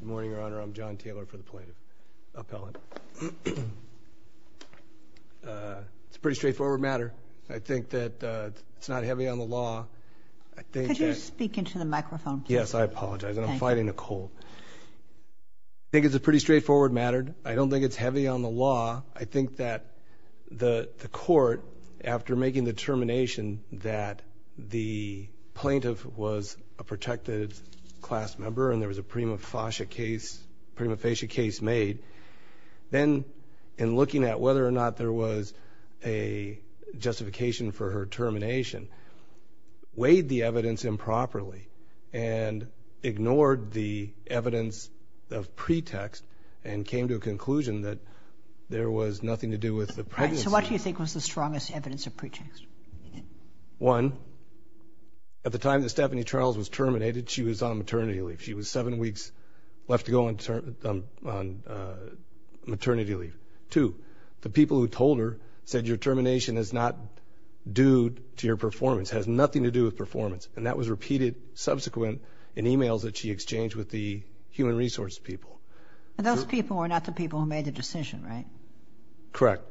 Good morning, Your Honor. I'm John Taylor for the Plaintiff Appellant. It's a pretty straightforward matter. I think that it's not heavy on the law. Could you speak into the microphone, please? Yes, I apologize. I'm fighting a cold. I think it's a pretty straightforward matter. I don't think it's heavy on the law. I think that the court, after making the determination that the plaintiff was a protected class member and there was a prima facie case made, then in looking at whether or not there was a justification for her termination, weighed the evidence improperly and ignored the evidence of pretext and came to a conclusion that there was nothing to do with the pregnancy. So what do you think was the strongest evidence of pretext? One, at the time that Stephanie Charles was terminated, she was on maternity leave. She was seven weeks left to go on maternity leave. Two, the people who told her said, your termination is not due to your performance, has nothing to do with performance. And that was repeated subsequent in e-mails that she exchanged with the human resources people. Those people were not the people who made the decision, right? Correct.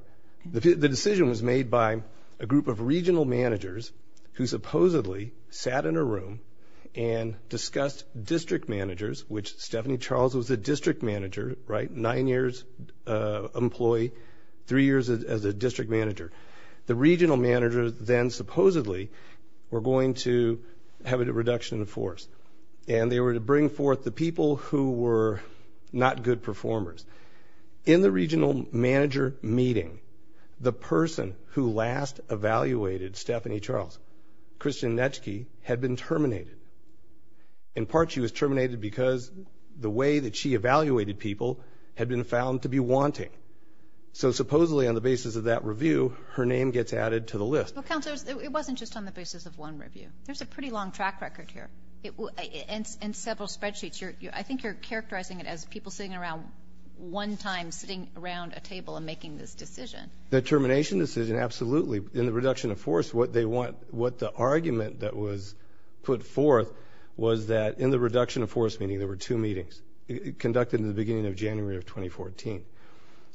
The decision was made by a group of regional managers who supposedly sat in a room and discussed district managers, which Stephanie Charles was a district manager, right? Nine years employee, three years as a district manager. The regional managers then supposedly were going to have a reduction in force, and they were to bring forth the people who were not good performers. In the regional manager meeting, the person who last evaluated Stephanie Charles, Christian Netschke, had been terminated. In part, she was terminated because the way that she evaluated people had been found to be wanting. So supposedly on the basis of that review, her name gets added to the list. Well, counselors, it wasn't just on the basis of one review. There's a pretty long track record here and several spreadsheets. I think you're characterizing it as people sitting around one time, sitting around a table and making this decision. The termination decision, absolutely. In the reduction of force, what the argument that was put forth was that in the reduction of force meeting, there were two meetings conducted in the beginning of January of 2014.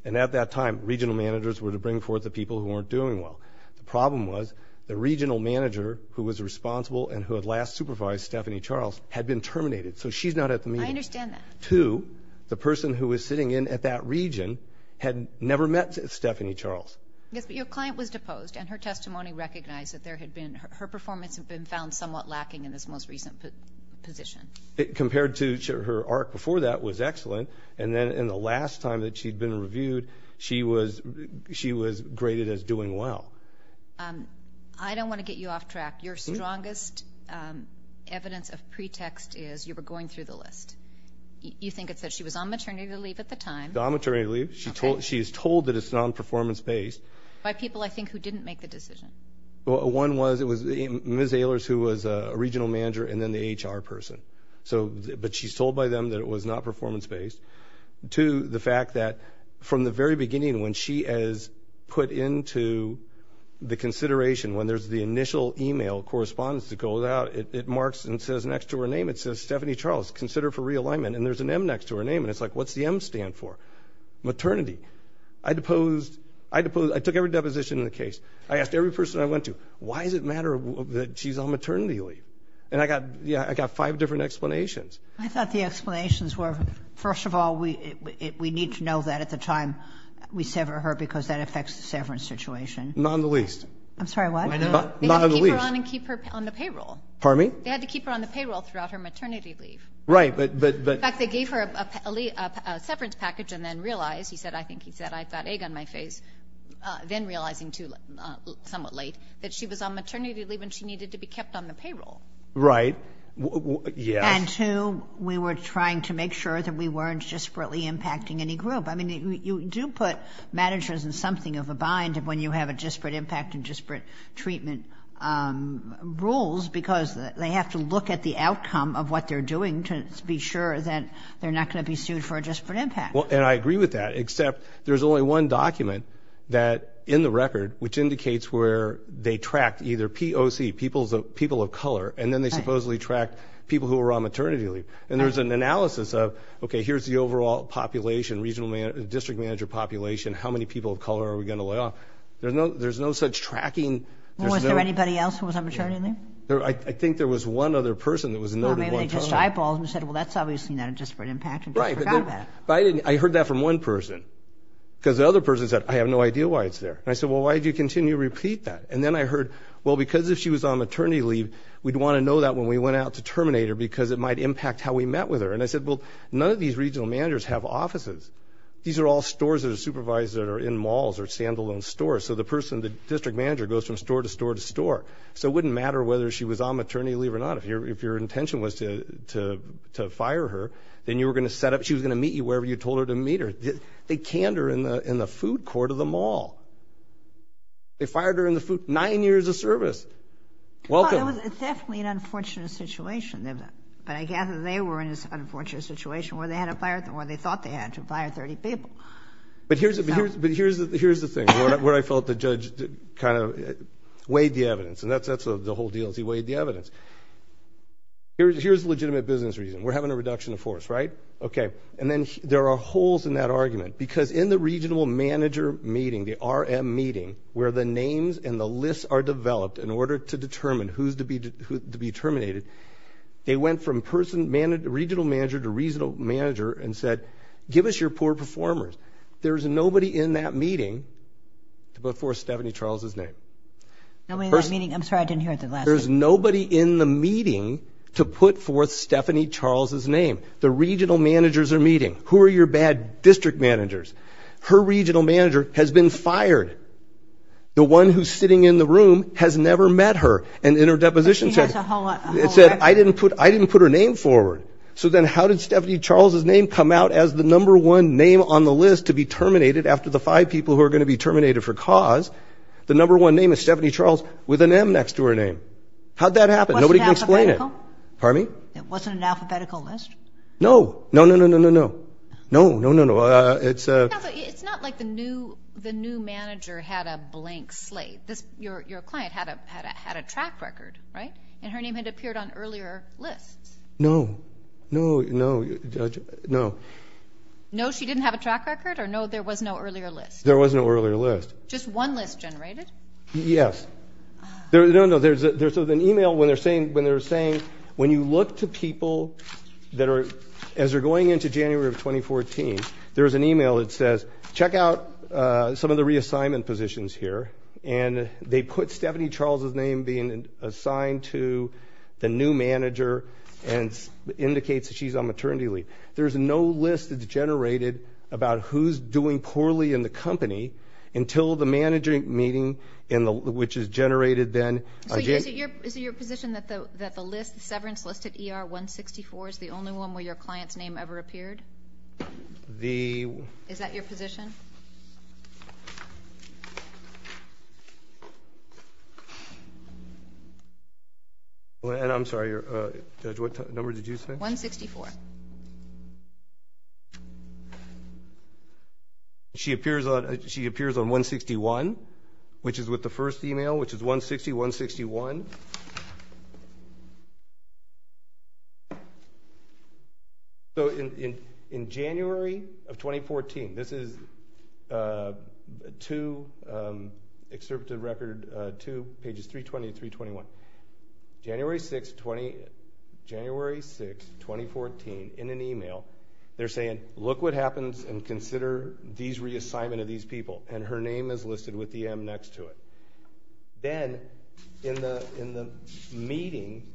And at that time, regional managers were to bring forth the people who weren't doing well. The problem was the regional manager who was responsible and who had last supervised Stephanie Charles had been terminated. So she's not at the meeting. I understand that. Two, the person who was sitting in at that region had never met Stephanie Charles. Yes, but your client was deposed, and her testimony recognized that her performance had been found somewhat lacking in this most recent position. Compared to her arc before that was excellent, and then in the last time that she'd been reviewed, she was graded as doing well. I don't want to get you off track. Your strongest evidence of pretext is you were going through the list. You think it's that she was on maternity leave at the time. She was on maternity leave. She is told that it's non-performance based. By people, I think, who didn't make the decision. One was it was Ms. Ehlers who was a regional manager and then the HR person, but she's told by them that it was not performance based. Two, the fact that from the very beginning when she is put into the consideration, when there's the initial email correspondence that goes out, it marks and says next to her name, it says, Stephanie Charles, consider for realignment, and there's an M next to her name, and it's like, what's the M stand for? I deposed. I took every deposition in the case. I asked every person I went to, why does it matter that she's on maternity leave? And I got five different explanations. I thought the explanations were, first of all, we need to know that at the time we sever her because that affects the severance situation. Not in the least. I'm sorry, what? Not in the least. They had to keep her on and keep her on the payroll. Pardon me? They had to keep her on the payroll throughout her maternity leave. Right. In fact, they gave her a severance package and then realized, he said, I think he said, I've got egg on my face, then realizing somewhat late that she was on maternity leave and she needed to be kept on the payroll. Right. Yes. And two, we were trying to make sure that we weren't desperately impacting any group. I mean, you do put managers in something of a bind when you have a disparate impact and disparate treatment rules because they have to look at the outcome of what they're doing to be sure that they're not going to be sued for a disparate impact. And I agree with that, except there's only one document that, in the record, which indicates where they tracked either POC, people of color, and then they supposedly tracked people who were on maternity leave. And there's an analysis of, okay, here's the overall population, regional district manager population, how many people of color are we going to lay off? There's no such tracking. Was there anybody else who was on maternity leave? I think there was one other person that was noted. Well, maybe they just eyeballed and said, well, that's obviously not a disparate impact. I heard that from one person because the other person said, I have no idea why it's there. And I said, well, why do you continue to repeat that? And then I heard, well, because if she was on maternity leave, we'd want to know that when we went out to terminate her because it might impact how we met with her. And I said, well, none of these regional managers have offices. These are all stores that are supervised that are in malls or standalone stores. So the person, the district manager, goes from store to store to store. So it wouldn't matter whether she was on maternity leave or not. If your intention was to fire her, then you were going to set up – she was going to meet you wherever you told her to meet her. They canned her in the food court of the mall. They fired her in the food – nine years of service. Well, it was definitely an unfortunate situation. But I gather they were in this unfortunate situation where they had to fire – where they thought they had to fire 30 people. But here's the thing, where I felt the judge kind of weighed the evidence. And that's the whole deal is he weighed the evidence. Here's legitimate business reason. We're having a reduction of force, right? Okay. And then there are holes in that argument because in the regional manager meeting, the RM meeting, where the names and the lists are developed in order to determine who's to be terminated, they went from person – regional manager to regional manager and said, give us your poor performers. There's nobody in that meeting to put forth Stephanie Charles's name. Nobody in that meeting? I'm sorry. I didn't hear it the last time. There's nobody in the meeting to put forth Stephanie Charles's name. The regional managers are meeting. Who are your bad district managers? Her regional manager has been fired. The one who's sitting in the room has never met her. And in her deposition, it said, I didn't put her name forward. So then how did Stephanie Charles's name come out as the number one name on the list to be terminated after the five people who are going to be terminated for cause? The number one name is Stephanie Charles with an M next to her name. How'd that happen? Wasn't it alphabetical? Pardon me? It wasn't an alphabetical list? No. No, no, no, no, no, no. No, no, no, no. It's a – It's not like the new manager had a blank slate. Your client had a track record, right? And her name had appeared on earlier lists. No. No, no, no. No, she didn't have a track record? Or no, there was no earlier list? There was no earlier list. Just one list generated? Yes. No, no. There's an email when they're saying when you look to people that are – as they're going into January of 2014, there's an email that says, check out some of the reassignment positions here. And they put Stephanie Charles's name being assigned to the new manager and indicates that she's on maternity leave. There's no list that's generated about who's doing poorly in the company until the manager meeting, which is generated then. So is it your position that the list, the severance list at ER-164, is the only one where your client's name ever appeared? The – Is that your position? I'm sorry, Judge, what number did you say? 164. 164. She appears on 161, which is with the first email, which is 160-161. So in January of 2014, this is two – they're saying, look what happens and consider these reassignment of these people, and her name is listed with the M next to it. Then in the meeting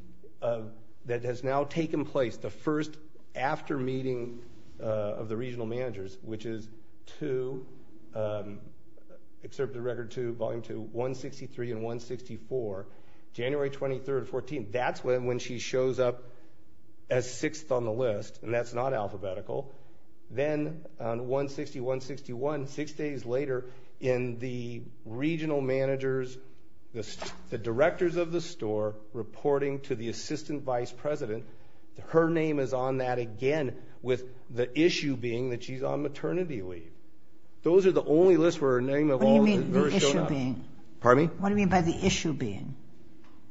that has now taken place, the first after-meeting of the regional managers, which is two – Excerpt of Record 2, Volume 2, 163 and 164, January 23rd, 2014, that's when she shows up as sixth on the list, and that's not alphabetical. Then on 160-161, six days later, in the regional managers, the directors of the store reporting to the assistant vice president, her name is on that again with the issue being that she's on maternity leave. Those are the only lists where her name of all – What do you mean, the issue being? Pardon me? What do you mean by the issue being?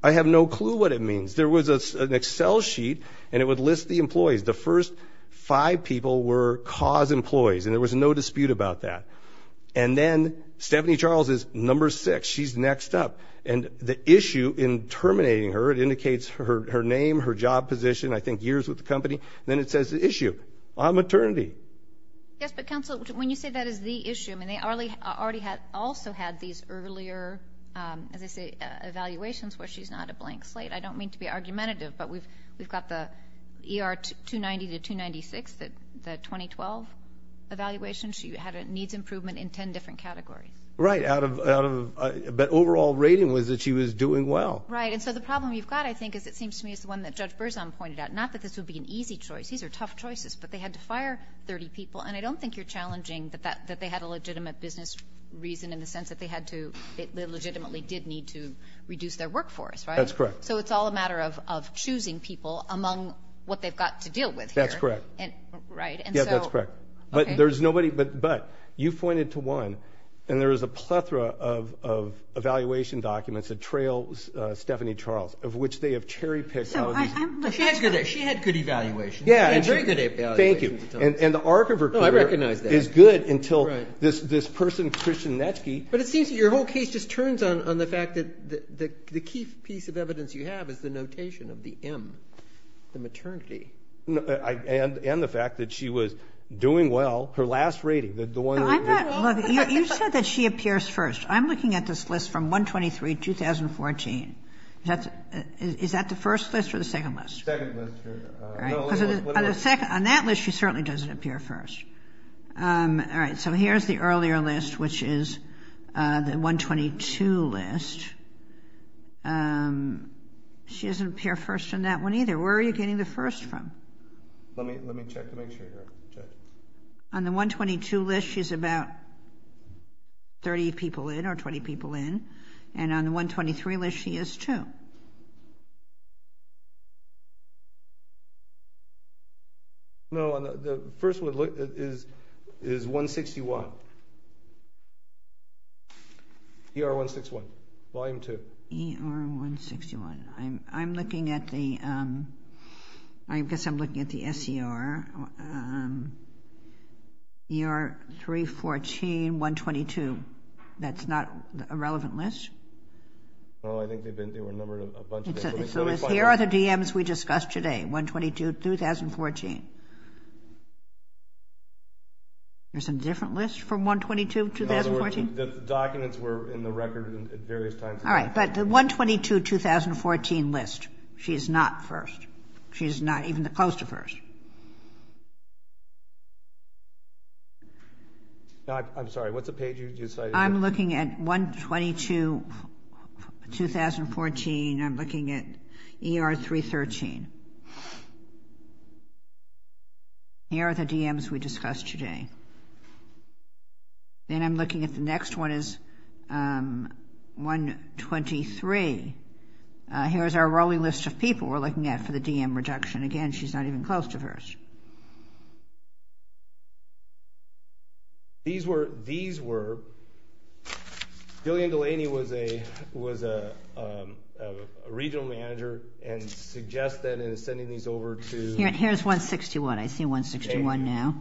I have no clue what it means. There was an Excel sheet, and it would list the employees. The first five people were cause employees, and there was no dispute about that. And then Stephanie Charles is number six. She's next up. And the issue in terminating her, it indicates her name, her job position, I think years with the company, and then it says the issue, on maternity. Yes, but, counsel, when you say that is the issue, I mean they already had also had these earlier, as I say, evaluations where she's not a blank slate. I don't mean to be argumentative, but we've got the ER 290 to 296, the 2012 evaluation. She had a needs improvement in ten different categories. Right, but overall rating was that she was doing well. Right, and so the problem you've got, I think, is it seems to me is the one that Judge Berzon pointed out, not that this would be an easy choice. These are tough choices, but they had to fire 30 people, and I don't think you're challenging that they had a legitimate business reason in the sense that they legitimately did need to reduce their workforce. That's correct. So it's all a matter of choosing people among what they've got to deal with here. That's correct. Right. Yeah, that's correct. But you pointed to one, and there is a plethora of evaluation documents that trail Stephanie Charles, of which they have cherry-picked all of these. She had good evaluations. Yeah, thank you. And the arc of her career is good until this person, Christian Netschke. But it seems that your whole case just turns on the fact that the key piece of evidence you have is the notation of the M, the maternity. And the fact that she was doing well. Her last rating, the one that we're talking about. You said that she appears first. I'm looking at this list from 1-23-2014. Is that the first list or the second list? The second list. On that list, she certainly doesn't appear first. All right, so here's the earlier list, which is the 1-22 list. She doesn't appear first on that one either. Where are you getting the first from? Let me check to make sure. On the 1-22 list, she's about 30 people in or 20 people in. And on the 1-23 list, she is two. No, the first one is 1-61. ER-161, volume two. ER-161. I'm looking at the SCR. ER-314, 1-22. That's not a relevant list? No, I think they were numbered a bunch. Here are the DMs we discussed today, 1-22-2014. There's a different list from 1-22-2014? No, the documents were in the record at various times. All right, but the 1-22-2014 list, she's not first. She's not even close to first. I'm sorry, what's the page you cited? I'm looking at 1-22-2014. I'm looking at ER-313. Here are the DMs we discussed today. Then I'm looking at the next one is 1-23. Here's our rolling list of people we're looking at for the DM reduction. Again, she's not even close to first. These were, Gillian Delaney was a regional manager and suggested sending these over to. Here's 1-61. I see 1-61 now.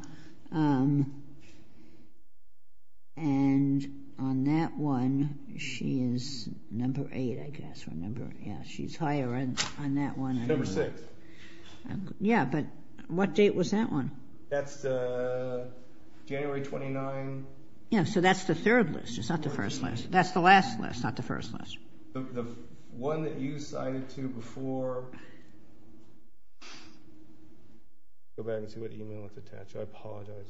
And on that one, she is number eight, I guess. Yeah, she's higher on that one. Number six. Yeah, but what date was that one? That's January 29. Yeah, so that's the third list. It's not the first list. That's the last list, not the first list. The one that you cited to before. Go back and see what email was attached. I apologize.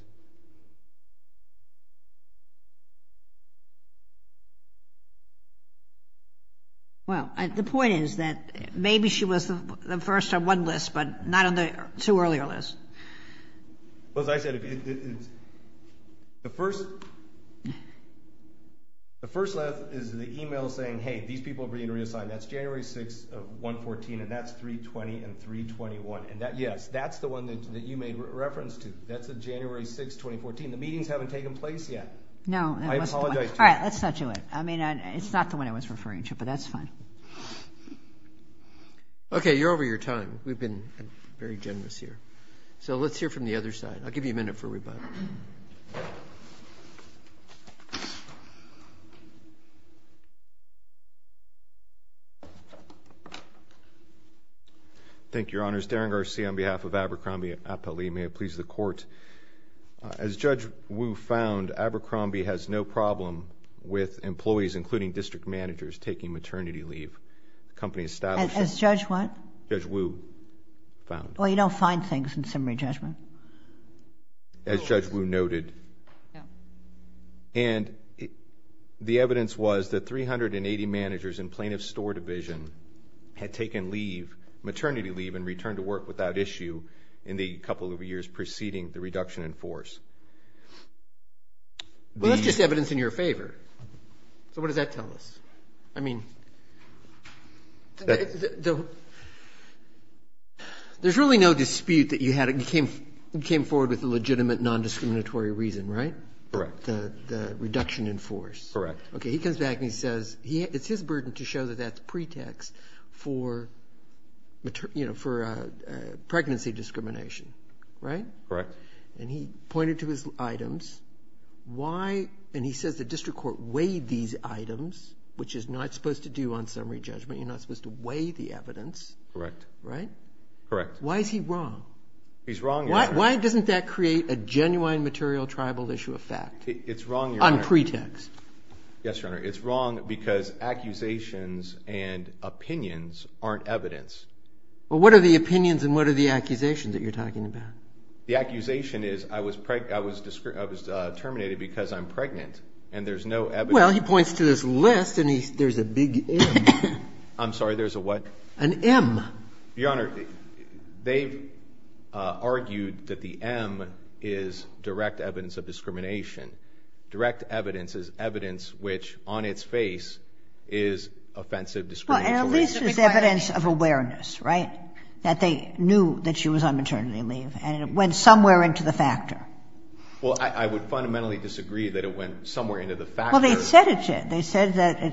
Well, the point is that maybe she was the first on one list, but not on the two earlier lists. Well, as I said, the first list is the email saying, hey, these people are being reassigned. That's January 6 of 1-14, and that's 3-20 and 3-21. And, yes, that's the one that you made reference to. That's January 6, 2014. The meetings haven't taken place yet. No. I apologize. All right, let's not do it. I mean, it's not the one I was referring to, but that's fine. Okay, you're over your time. We've been very generous here. So let's hear from the other side. I'll give you a minute for rebuttal. Thank you, Your Honors. Darren Garcia on behalf of Abercrombie Appellee. May it please the Court. As Judge Wu found, Abercrombie has no problem with employees, including district managers, taking maternity leave. The company established... As Judge what? Judge Wu found. Well, you don't find things in summary judgment. As Judge Wu noted. And the evidence was that 380 managers in plaintiff's store division had taken leave, maternity leave, and returned to work without issue in the couple of years preceding the reduction in force. Well, that's just evidence in your favor. So what does that tell us? I mean, there's really no dispute that you came forward with a legitimate, non-discriminatory reason, right? Correct. The reduction in force. Correct. Okay, he comes back and he says it's his burden to show that that's pretext for pregnancy discrimination, right? Correct. And he pointed to his items. Why? And he says the district court weighed these items, which is not supposed to do on summary judgment. You're not supposed to weigh the evidence. Correct. Right? Correct. Why is he wrong? Why doesn't that create a genuine material tribal issue of fact? It's wrong, Your Honor. On pretext. Yes, Your Honor. It's wrong because accusations and opinions aren't evidence. Well, what are the opinions and what are the accusations that you're talking about? The accusation is I was terminated because I'm pregnant, and there's no evidence. Well, he points to this list and there's a big M. I'm sorry, there's a what? An M. Your Honor, they've argued that the M is direct evidence of discrimination. Direct evidence is evidence which on its face is offensive discrimination. Well, at least it's evidence of awareness, right? That they knew that she was on maternity leave, and it went somewhere into the factor. Well, I would fundamentally disagree that it went somewhere into the factor. Well, they said it did. They said that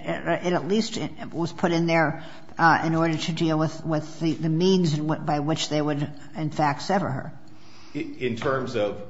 it at least was put in there in order to deal with the means by which they would, in fact, sever her. In terms of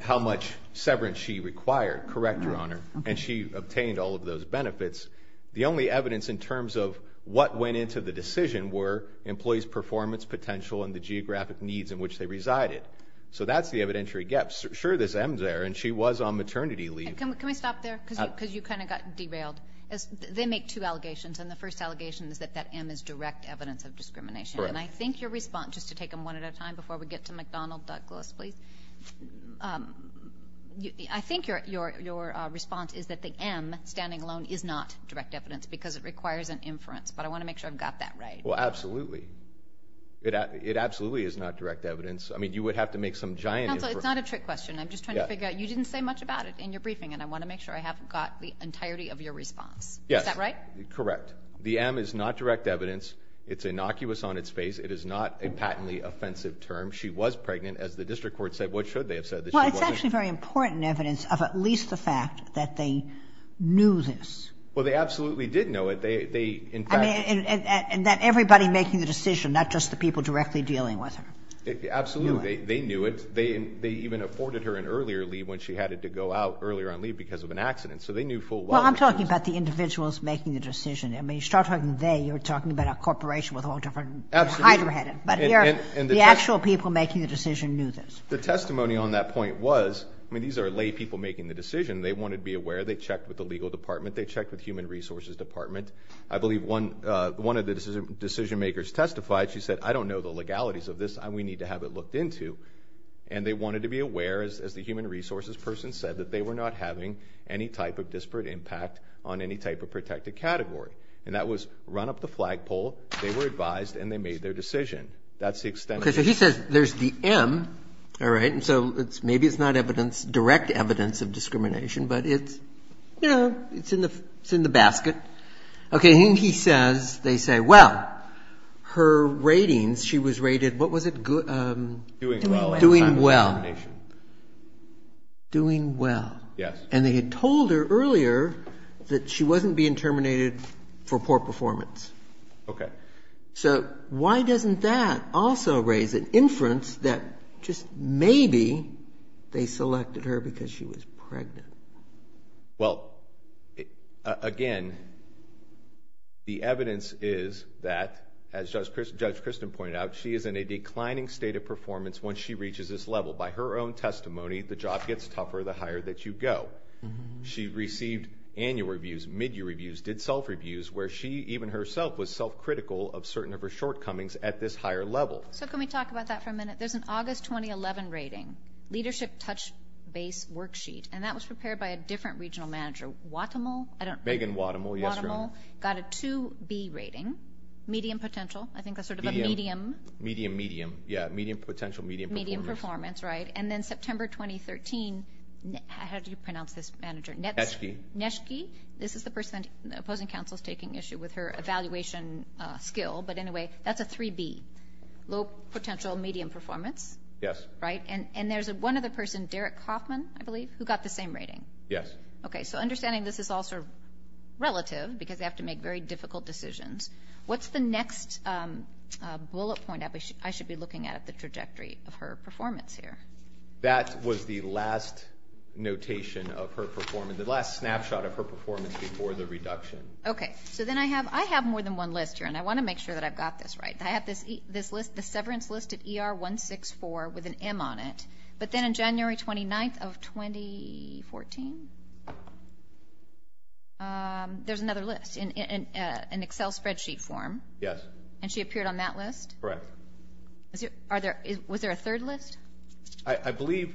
how much severance she required. Correct, Your Honor. And she obtained all of those benefits. The only evidence in terms of what went into the decision were employees' performance potential and the geographic needs in which they resided. So that's the evidentiary gap. Sure, there's M's there, and she was on maternity leave. Can we stop there? Because you kind of got derailed. and the first allegation is that that M is direct evidence of discrimination. And I think your response, just to take them one at a time before we get to McDonald-Douglas, please. I think your response is that the M, standing alone, is not direct evidence because it requires an inference. But I want to make sure I've got that right. Well, absolutely. It absolutely is not direct evidence. I mean, you would have to make some giant inference. Counsel, it's not a trick question. I'm just trying to figure out. You didn't say much about it in your briefing, and I want to make sure I have got the entirety of your response. Yes. Is that right? Correct. The M is not direct evidence. It's innocuous on its face. It is not a patently offensive term. She was pregnant. As the district court said, what should they have said? Well, it's actually very important evidence of at least the fact that they knew this. Well, they absolutely did know it. They, in fact – And that everybody making the decision, not just the people directly dealing with her. Absolutely. They knew it. They even afforded her an earlier leave when she had to go out earlier on leave because of an accident. So they knew full well – Well, I'm talking about the individuals making the decision. I mean, you start talking about they. You're talking about a corporation with all different – Absolutely. But the actual people making the decision knew this. The testimony on that point was – I mean, these are lay people making the decision. They wanted to be aware. They checked with the legal department. They checked with human resources department. I believe one of the decision makers testified. She said, I don't know the legalities of this. We need to have it looked into. And they wanted to be aware, as the human resources person said, that they were not having any type of disparate impact on any type of protected category. And that was run up the flagpole. They were advised, and they made their decision. That's the extent of the – Okay, so he says there's the M. All right, and so maybe it's not direct evidence of discrimination, but it's, you know, it's in the basket. Okay, and he says, they say, well, her ratings, she was rated – what was it? Doing well. Doing well. Doing well. Yes. And they had told her earlier that she wasn't being terminated for poor performance. Okay. So why doesn't that also raise an inference that just maybe they selected her because she was pregnant? Well, again, the evidence is that, as Judge Christin pointed out, she is in a declining state of performance once she reaches this level. By her own testimony, the job gets tougher the higher that you go. She received annual reviews, mid-year reviews, did self-reviews, where she even herself was self-critical of certain of her shortcomings at this higher level. So can we talk about that for a minute? There's an August 2011 rating, Leadership Touch Base Worksheet, and that was prepared by a different regional manager, Wattamall. Megan Wattamall, yes, Your Honor. Wattamall got a 2B rating, medium potential. I think that's sort of a medium. Medium, medium. Yeah, medium potential, medium performance. Medium performance, right. And then September 2013, how do you pronounce this manager? Netschke. Netschke. This is the person the opposing counsel is taking issue with her evaluation skill. But anyway, that's a 3B, low potential, medium performance. Yes. Right. And there's one other person, Derek Kaufman, I believe, who got the same rating. Yes. Okay. So understanding this is all sort of relative because they have to make very difficult decisions, what's the next bullet point I should be looking at the trajectory of her performance here? That was the last notation of her performance, the last snapshot of her performance before the reduction. Okay. So then I have more than one list here, and I want to make sure that I've got this right. I have this list, the severance list at ER 164 with an M on it. But then on January 29th of 2014, there's another list in Excel spreadsheet form. Yes. And she appeared on that list? Correct. Was there a third list? I believe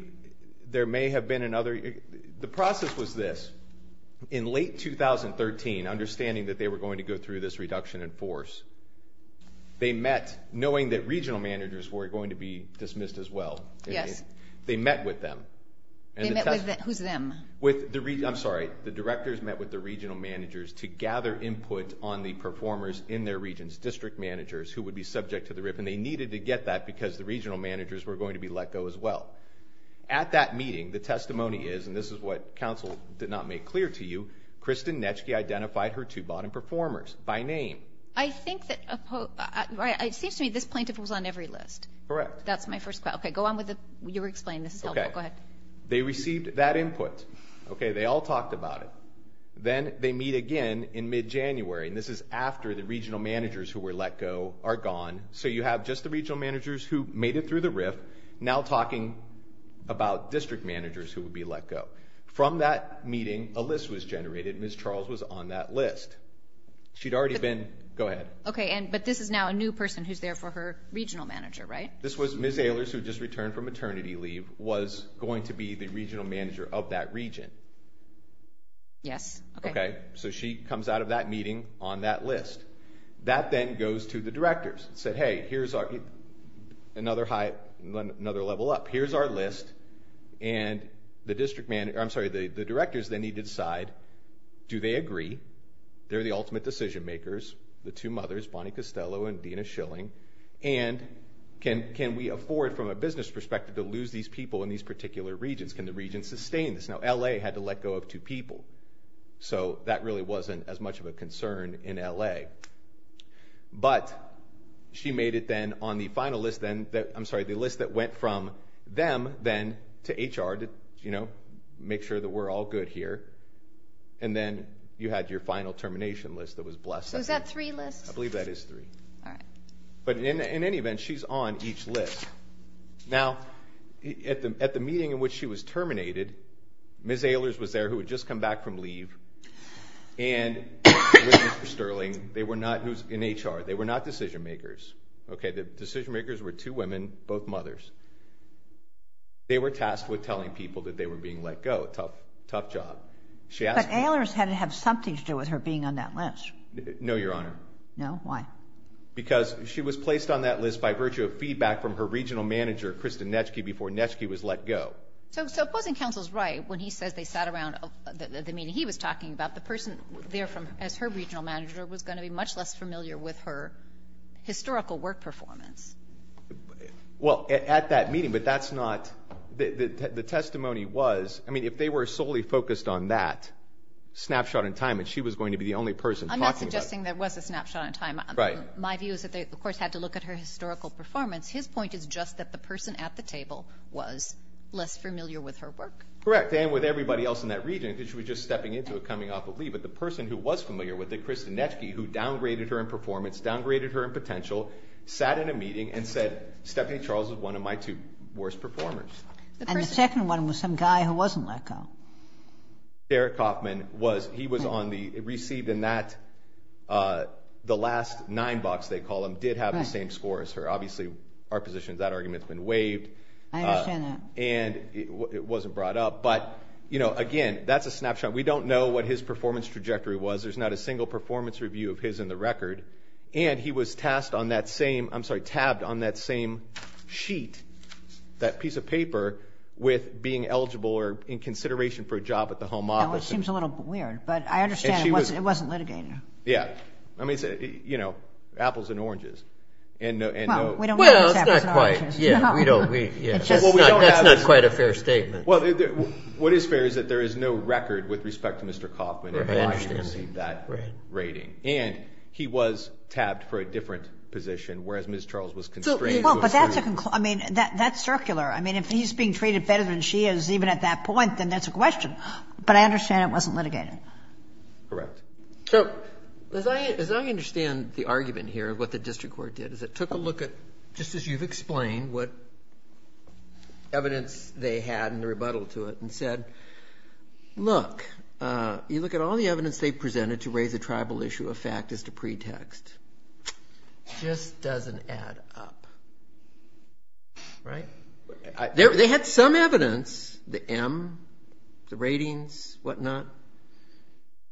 there may have been another. The process was this. In late 2013, understanding that they were going to go through this reduction in force, they met knowing that regional managers were going to be dismissed as well. Yes. They met with them. Who's them? I'm sorry. The directors met with the regional managers to gather input on the performers in their regions, district managers who would be subject to the RIF, and they needed to get that because the regional managers were going to be let go as well. At that meeting, the testimony is, and this is what counsel did not make clear to you, Kristen Netschke identified her two bottom performers by name. It seems to me this plaintiff was on every list. Correct. So that's my first question. Okay. Go on with it. You explain. This is helpful. Go ahead. They received that input. Okay. They all talked about it. Then they meet again in mid-January, and this is after the regional managers who were let go are gone. So you have just the regional managers who made it through the RIF, now talking about district managers who would be let go. From that meeting, a list was generated. Ms. Charles was on that list. She'd already been. Go ahead. Okay. But this is now a new person who's there for her regional manager, right? This was Ms. Ehlers, who had just returned from maternity leave, was going to be the regional manager of that region. Yes. Okay. So she comes out of that meeting on that list. That then goes to the directors and said, hey, here's another level up. Here's our list, and the directors then need to decide, do they agree? They're the ultimate decision makers, the two mothers, Bonnie Costello and Dina Schilling, and can we afford, from a business perspective, to lose these people in these particular regions? Can the region sustain this? Now, L.A. had to let go of two people. So that really wasn't as much of a concern in L.A. But she made it then on the final list then, I'm sorry, the list that went from them then to HR to, you know, make sure that we're all good here. And then you had your final termination list that was blessed. So is that three lists? I believe that is three. All right. But in any event, she's on each list. Now, at the meeting in which she was terminated, Ms. Ehlers was there who had just come back from leave, and Mr. Sterling, who's in HR, they were not decision makers. The decision makers were two women, both mothers. They were tasked with telling people that they were being let go. Tough job. But Ehlers had to have something to do with her being on that list. No, Your Honor. No? Why? Because she was placed on that list by virtue of feedback from her regional manager, Kristen Netschke, before Netschke was let go. So opposing counsel is right when he says they sat around the meeting he was talking about. The person there as her regional manager was going to be much less familiar with her historical work performance. Well, at that meeting, but that's not the testimony was. I mean, if they were solely focused on that snapshot in time, then she was going to be the only person talking about it. I'm not suggesting there was a snapshot in time. Right. My view is that they, of course, had to look at her historical performance. His point is just that the person at the table was less familiar with her work. Correct. And with everybody else in that region, because she was just stepping into it coming off of leave. But the person who was familiar with it, Kristen Netschke, who downgraded her in performance, downgraded her in potential, sat in a meeting and said, Stephanie Charles is one of my two worst performers. And the second one was some guy who wasn't let go. Derek Hoffman was, he was on the, received in that, the last nine box they call them, did have the same score as her. Obviously our position is that argument's been waived. I understand that. And it wasn't brought up. But, you know, again, that's a snapshot. We don't know what his performance trajectory was. There's not a single performance review of his in the record. And he was tasked on that same, I'm sorry, tabbed on that same sheet, that piece of paper with being eligible or in consideration for a job at the home office. Well, it seems a little weird, but I understand it wasn't litigated. Yeah. I mean, you know, apples and oranges. Well, we don't know who's apples and oranges. Yeah, we don't. That's not quite a fair statement. Well, what is fair is that there is no record with respect to Mr. Hoffman in Washington that rating. And he was tabbed for a different position, whereas Ms. Charles was constrained. Well, but that's a, I mean, that's circular. I mean, if he's being treated better than she is even at that point, then that's a question. But I understand it wasn't litigated. Correct. So as I understand the argument here of what the district court did is it took a look at, just as you've explained, what evidence they had in the rebuttal to it and said, look, you look at all the evidence they've presented to raise a tribal issue of fact as to pretext. It just doesn't add up. Right? They had some evidence, the M, the ratings, whatnot.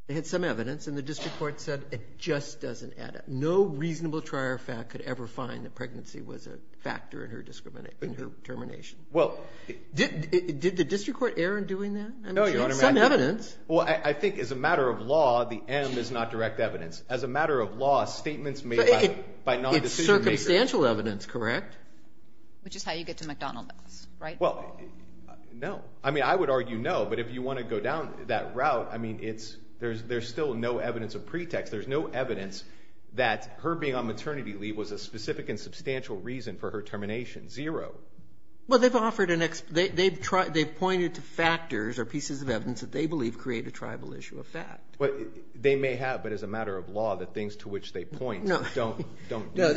They had some evidence, and the district court said it just doesn't add up. No reasonable trier of fact could ever find that pregnancy was a factor in her determination. Did the district court err in doing that? No, Your Honor. Some evidence. Well, I think as a matter of law, the M is not direct evidence. As a matter of law, statements made by non-decision makers. It's circumstantial evidence, correct? Which is how you get to McDonald's, right? Well, no. I mean, I would argue no. But if you want to go down that route, I mean, there's still no evidence of pretext. There's no evidence that her being on maternity leave was a specific and substantial reason for her termination. Zero. Well, they've pointed to factors or pieces of evidence that they believe create a tribal issue of fact. They may have, but as a matter of law, the things to which they point don't. No.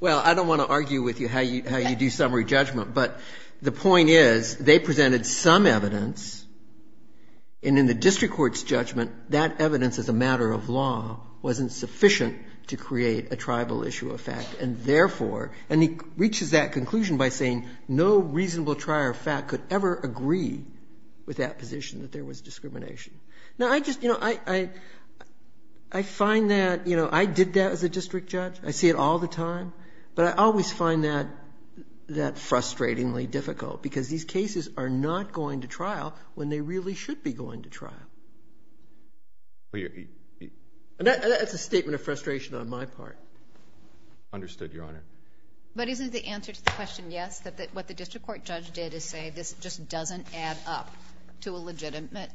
Well, I don't want to argue with you how you do summary judgment. But the point is, they presented some evidence. And in the district court's judgment, that evidence as a matter of law wasn't sufficient to create a tribal issue of fact. And therefore, and he reaches that conclusion by saying no reasonable trier of fact could ever agree with that position that there was discrimination. Now, I just, you know, I find that, you know, I did that as a district judge. I see it all the time. But I always find that frustratingly difficult, because these cases are not going to trial when they really should be going to trial. That's a statement of frustration on my part. Understood, Your Honor. But isn't the answer to the question yes, that what the district court judge did is say this just doesn't add up to a legitimate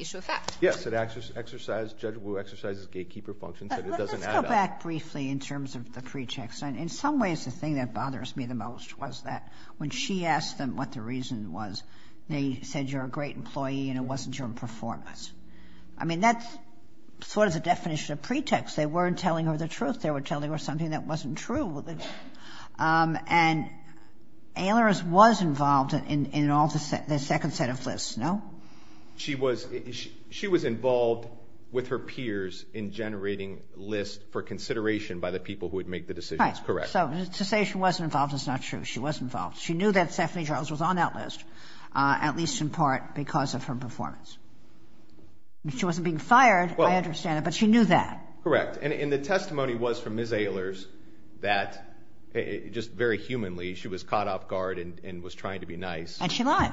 issue of fact? Yes. Yes, it exercised, Judge Wu exercised his gatekeeper function, said it doesn't add up. Let's go back briefly in terms of the pretext. In some ways, the thing that bothers me the most was that when she asked them what the reason was, they said you're a great employee and it wasn't your performance. I mean, that's sort of the definition of pretext. They weren't telling her the truth. They were telling her something that wasn't true. And Aylor was involved in all the second set of lists, no? She was involved with her peers in generating lists for consideration by the people who would make the decisions. Correct. So to say she wasn't involved is not true. She was involved. She knew that Stephanie Charles was on that list, at least in part because of her performance. She wasn't being fired, I understand that, but she knew that. Correct. And the testimony was from Ms. Aylor's that just very humanly she was caught off guard and was trying to be nice. And she lied.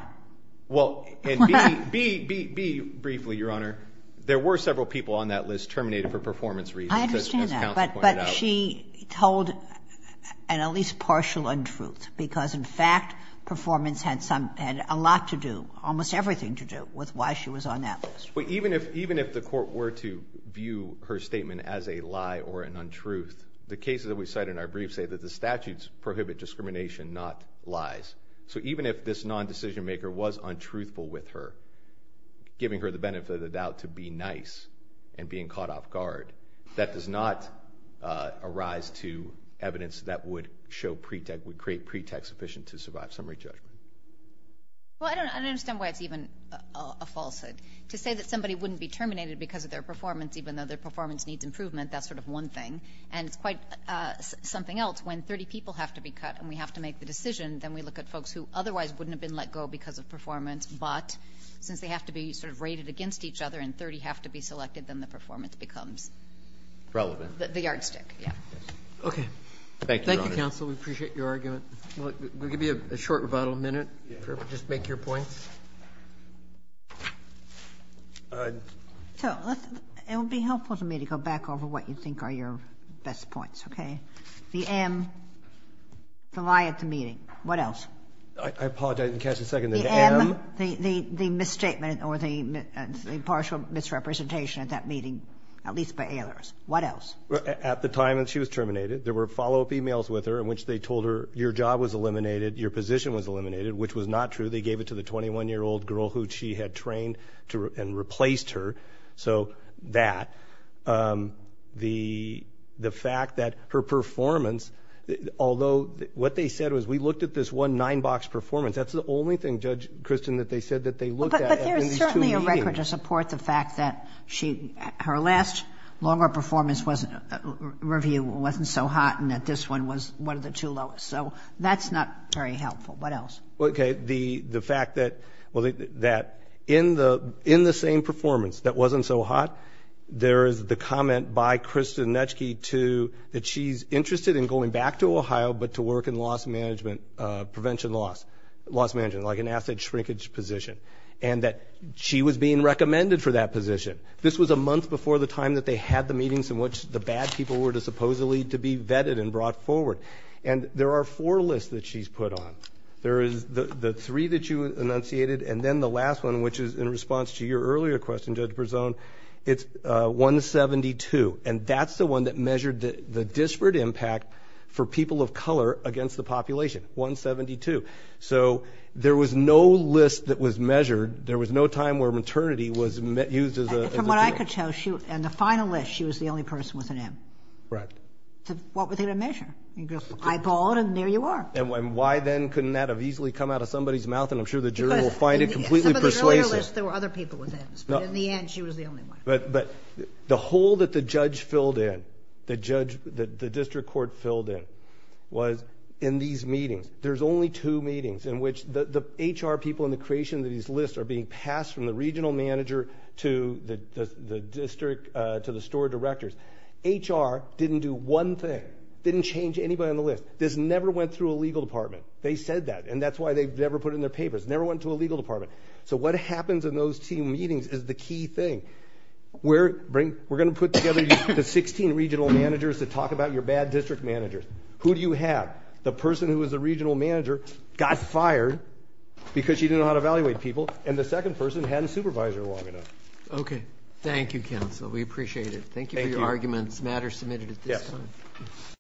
Well, and be briefly, Your Honor, there were several people on that list terminated for performance reasons, as counsel pointed out. I understand that. But she told an at least partial untruth because, in fact, performance had a lot to do, almost everything to do, with why she was on that list. Even if the court were to view her statement as a lie or an untruth, the cases that we cite in our briefs say that the statutes prohibit discrimination, not lies. So even if this non-decision maker was untruthful with her, giving her the benefit of the doubt to be nice and being caught off guard, that does not arise to evidence that would create pretext sufficient to survive summary judgment. Well, I don't understand why it's even a falsehood. To say that somebody wouldn't be terminated because of their performance, even though their performance needs improvement, that's sort of one thing. And it's quite something else. When 30 people have to be cut and we have to make the decision, then we look at folks who otherwise wouldn't have been let go because of performance. But since they have to be sort of rated against each other and 30 have to be selected, then the performance becomes the yardstick. Okay. Thank you, Your Honor. Thank you, counsel. We appreciate your argument. We'll give you a short rebuttal minute. Just make your points. So it would be helpful to me to go back over what you think are your best points. The M, the lie at the meeting. What else? I apologize. I didn't catch the second. The M, the misstatement or the partial misrepresentation at that meeting, at least by alias. What else? At the time when she was terminated, there were follow-up e-mails with her in which they told her your job was eliminated, your position was eliminated, which was not true. They gave it to the 21-year-old girl who she had trained and replaced her. So that, the fact that her performance, although what they said was we looked at this one nine-box performance. That's the only thing, Judge Kristen, that they said that they looked at in these two meetings. But there's certainly a record to support the fact that her last longer performance review wasn't so hot and that this one was one of the two lowest. So that's not very helpful. What else? Okay. The fact that in the same performance that wasn't so hot, there is the comment by Kristen Netschke to that she's interested in going back to Ohio but to work in loss management, prevention loss, loss management, like an asset shrinkage position. And that she was being recommended for that position. This was a month before the time that they had the meetings in which the bad people were supposedly to be vetted and brought forward. And there are four lists that she's put on. There is the three that you enunciated and then the last one, which is in response to your earlier question, Judge Berzon, it's 172. And that's the one that measured the disparate impact for people of color against the population, 172. So there was no list that was measured. There was no time where maternity was used as a tool. From what I could tell, in the final list, she was the only person with an M. Right. So what were they going to measure? Eyeball it and there you are. And why then couldn't that have easily come out of somebody's mouth? And I'm sure the jury will find it completely persuasive. In some of the earlier lists there were other people with M's, but in the end she was the only one. But the hole that the judge filled in, the district court filled in, was in these meetings. There's only two meetings in which the HR people in the creation of these lists are being passed from the regional manager to the store directors. HR didn't do one thing, didn't change anybody on the list. This never went through a legal department. They said that, and that's why they never put it in their papers. It never went to a legal department. So what happens in those team meetings is the key thing. We're going to put together the 16 regional managers to talk about your bad district managers. Who do you have? The person who was the regional manager got fired because she didn't know how to evaluate people, and the second person hadn't supervised her long enough. Okay. Thank you, counsel. We appreciate it. Thank you for your arguments. The matter is submitted at this time. Yes. Thank you.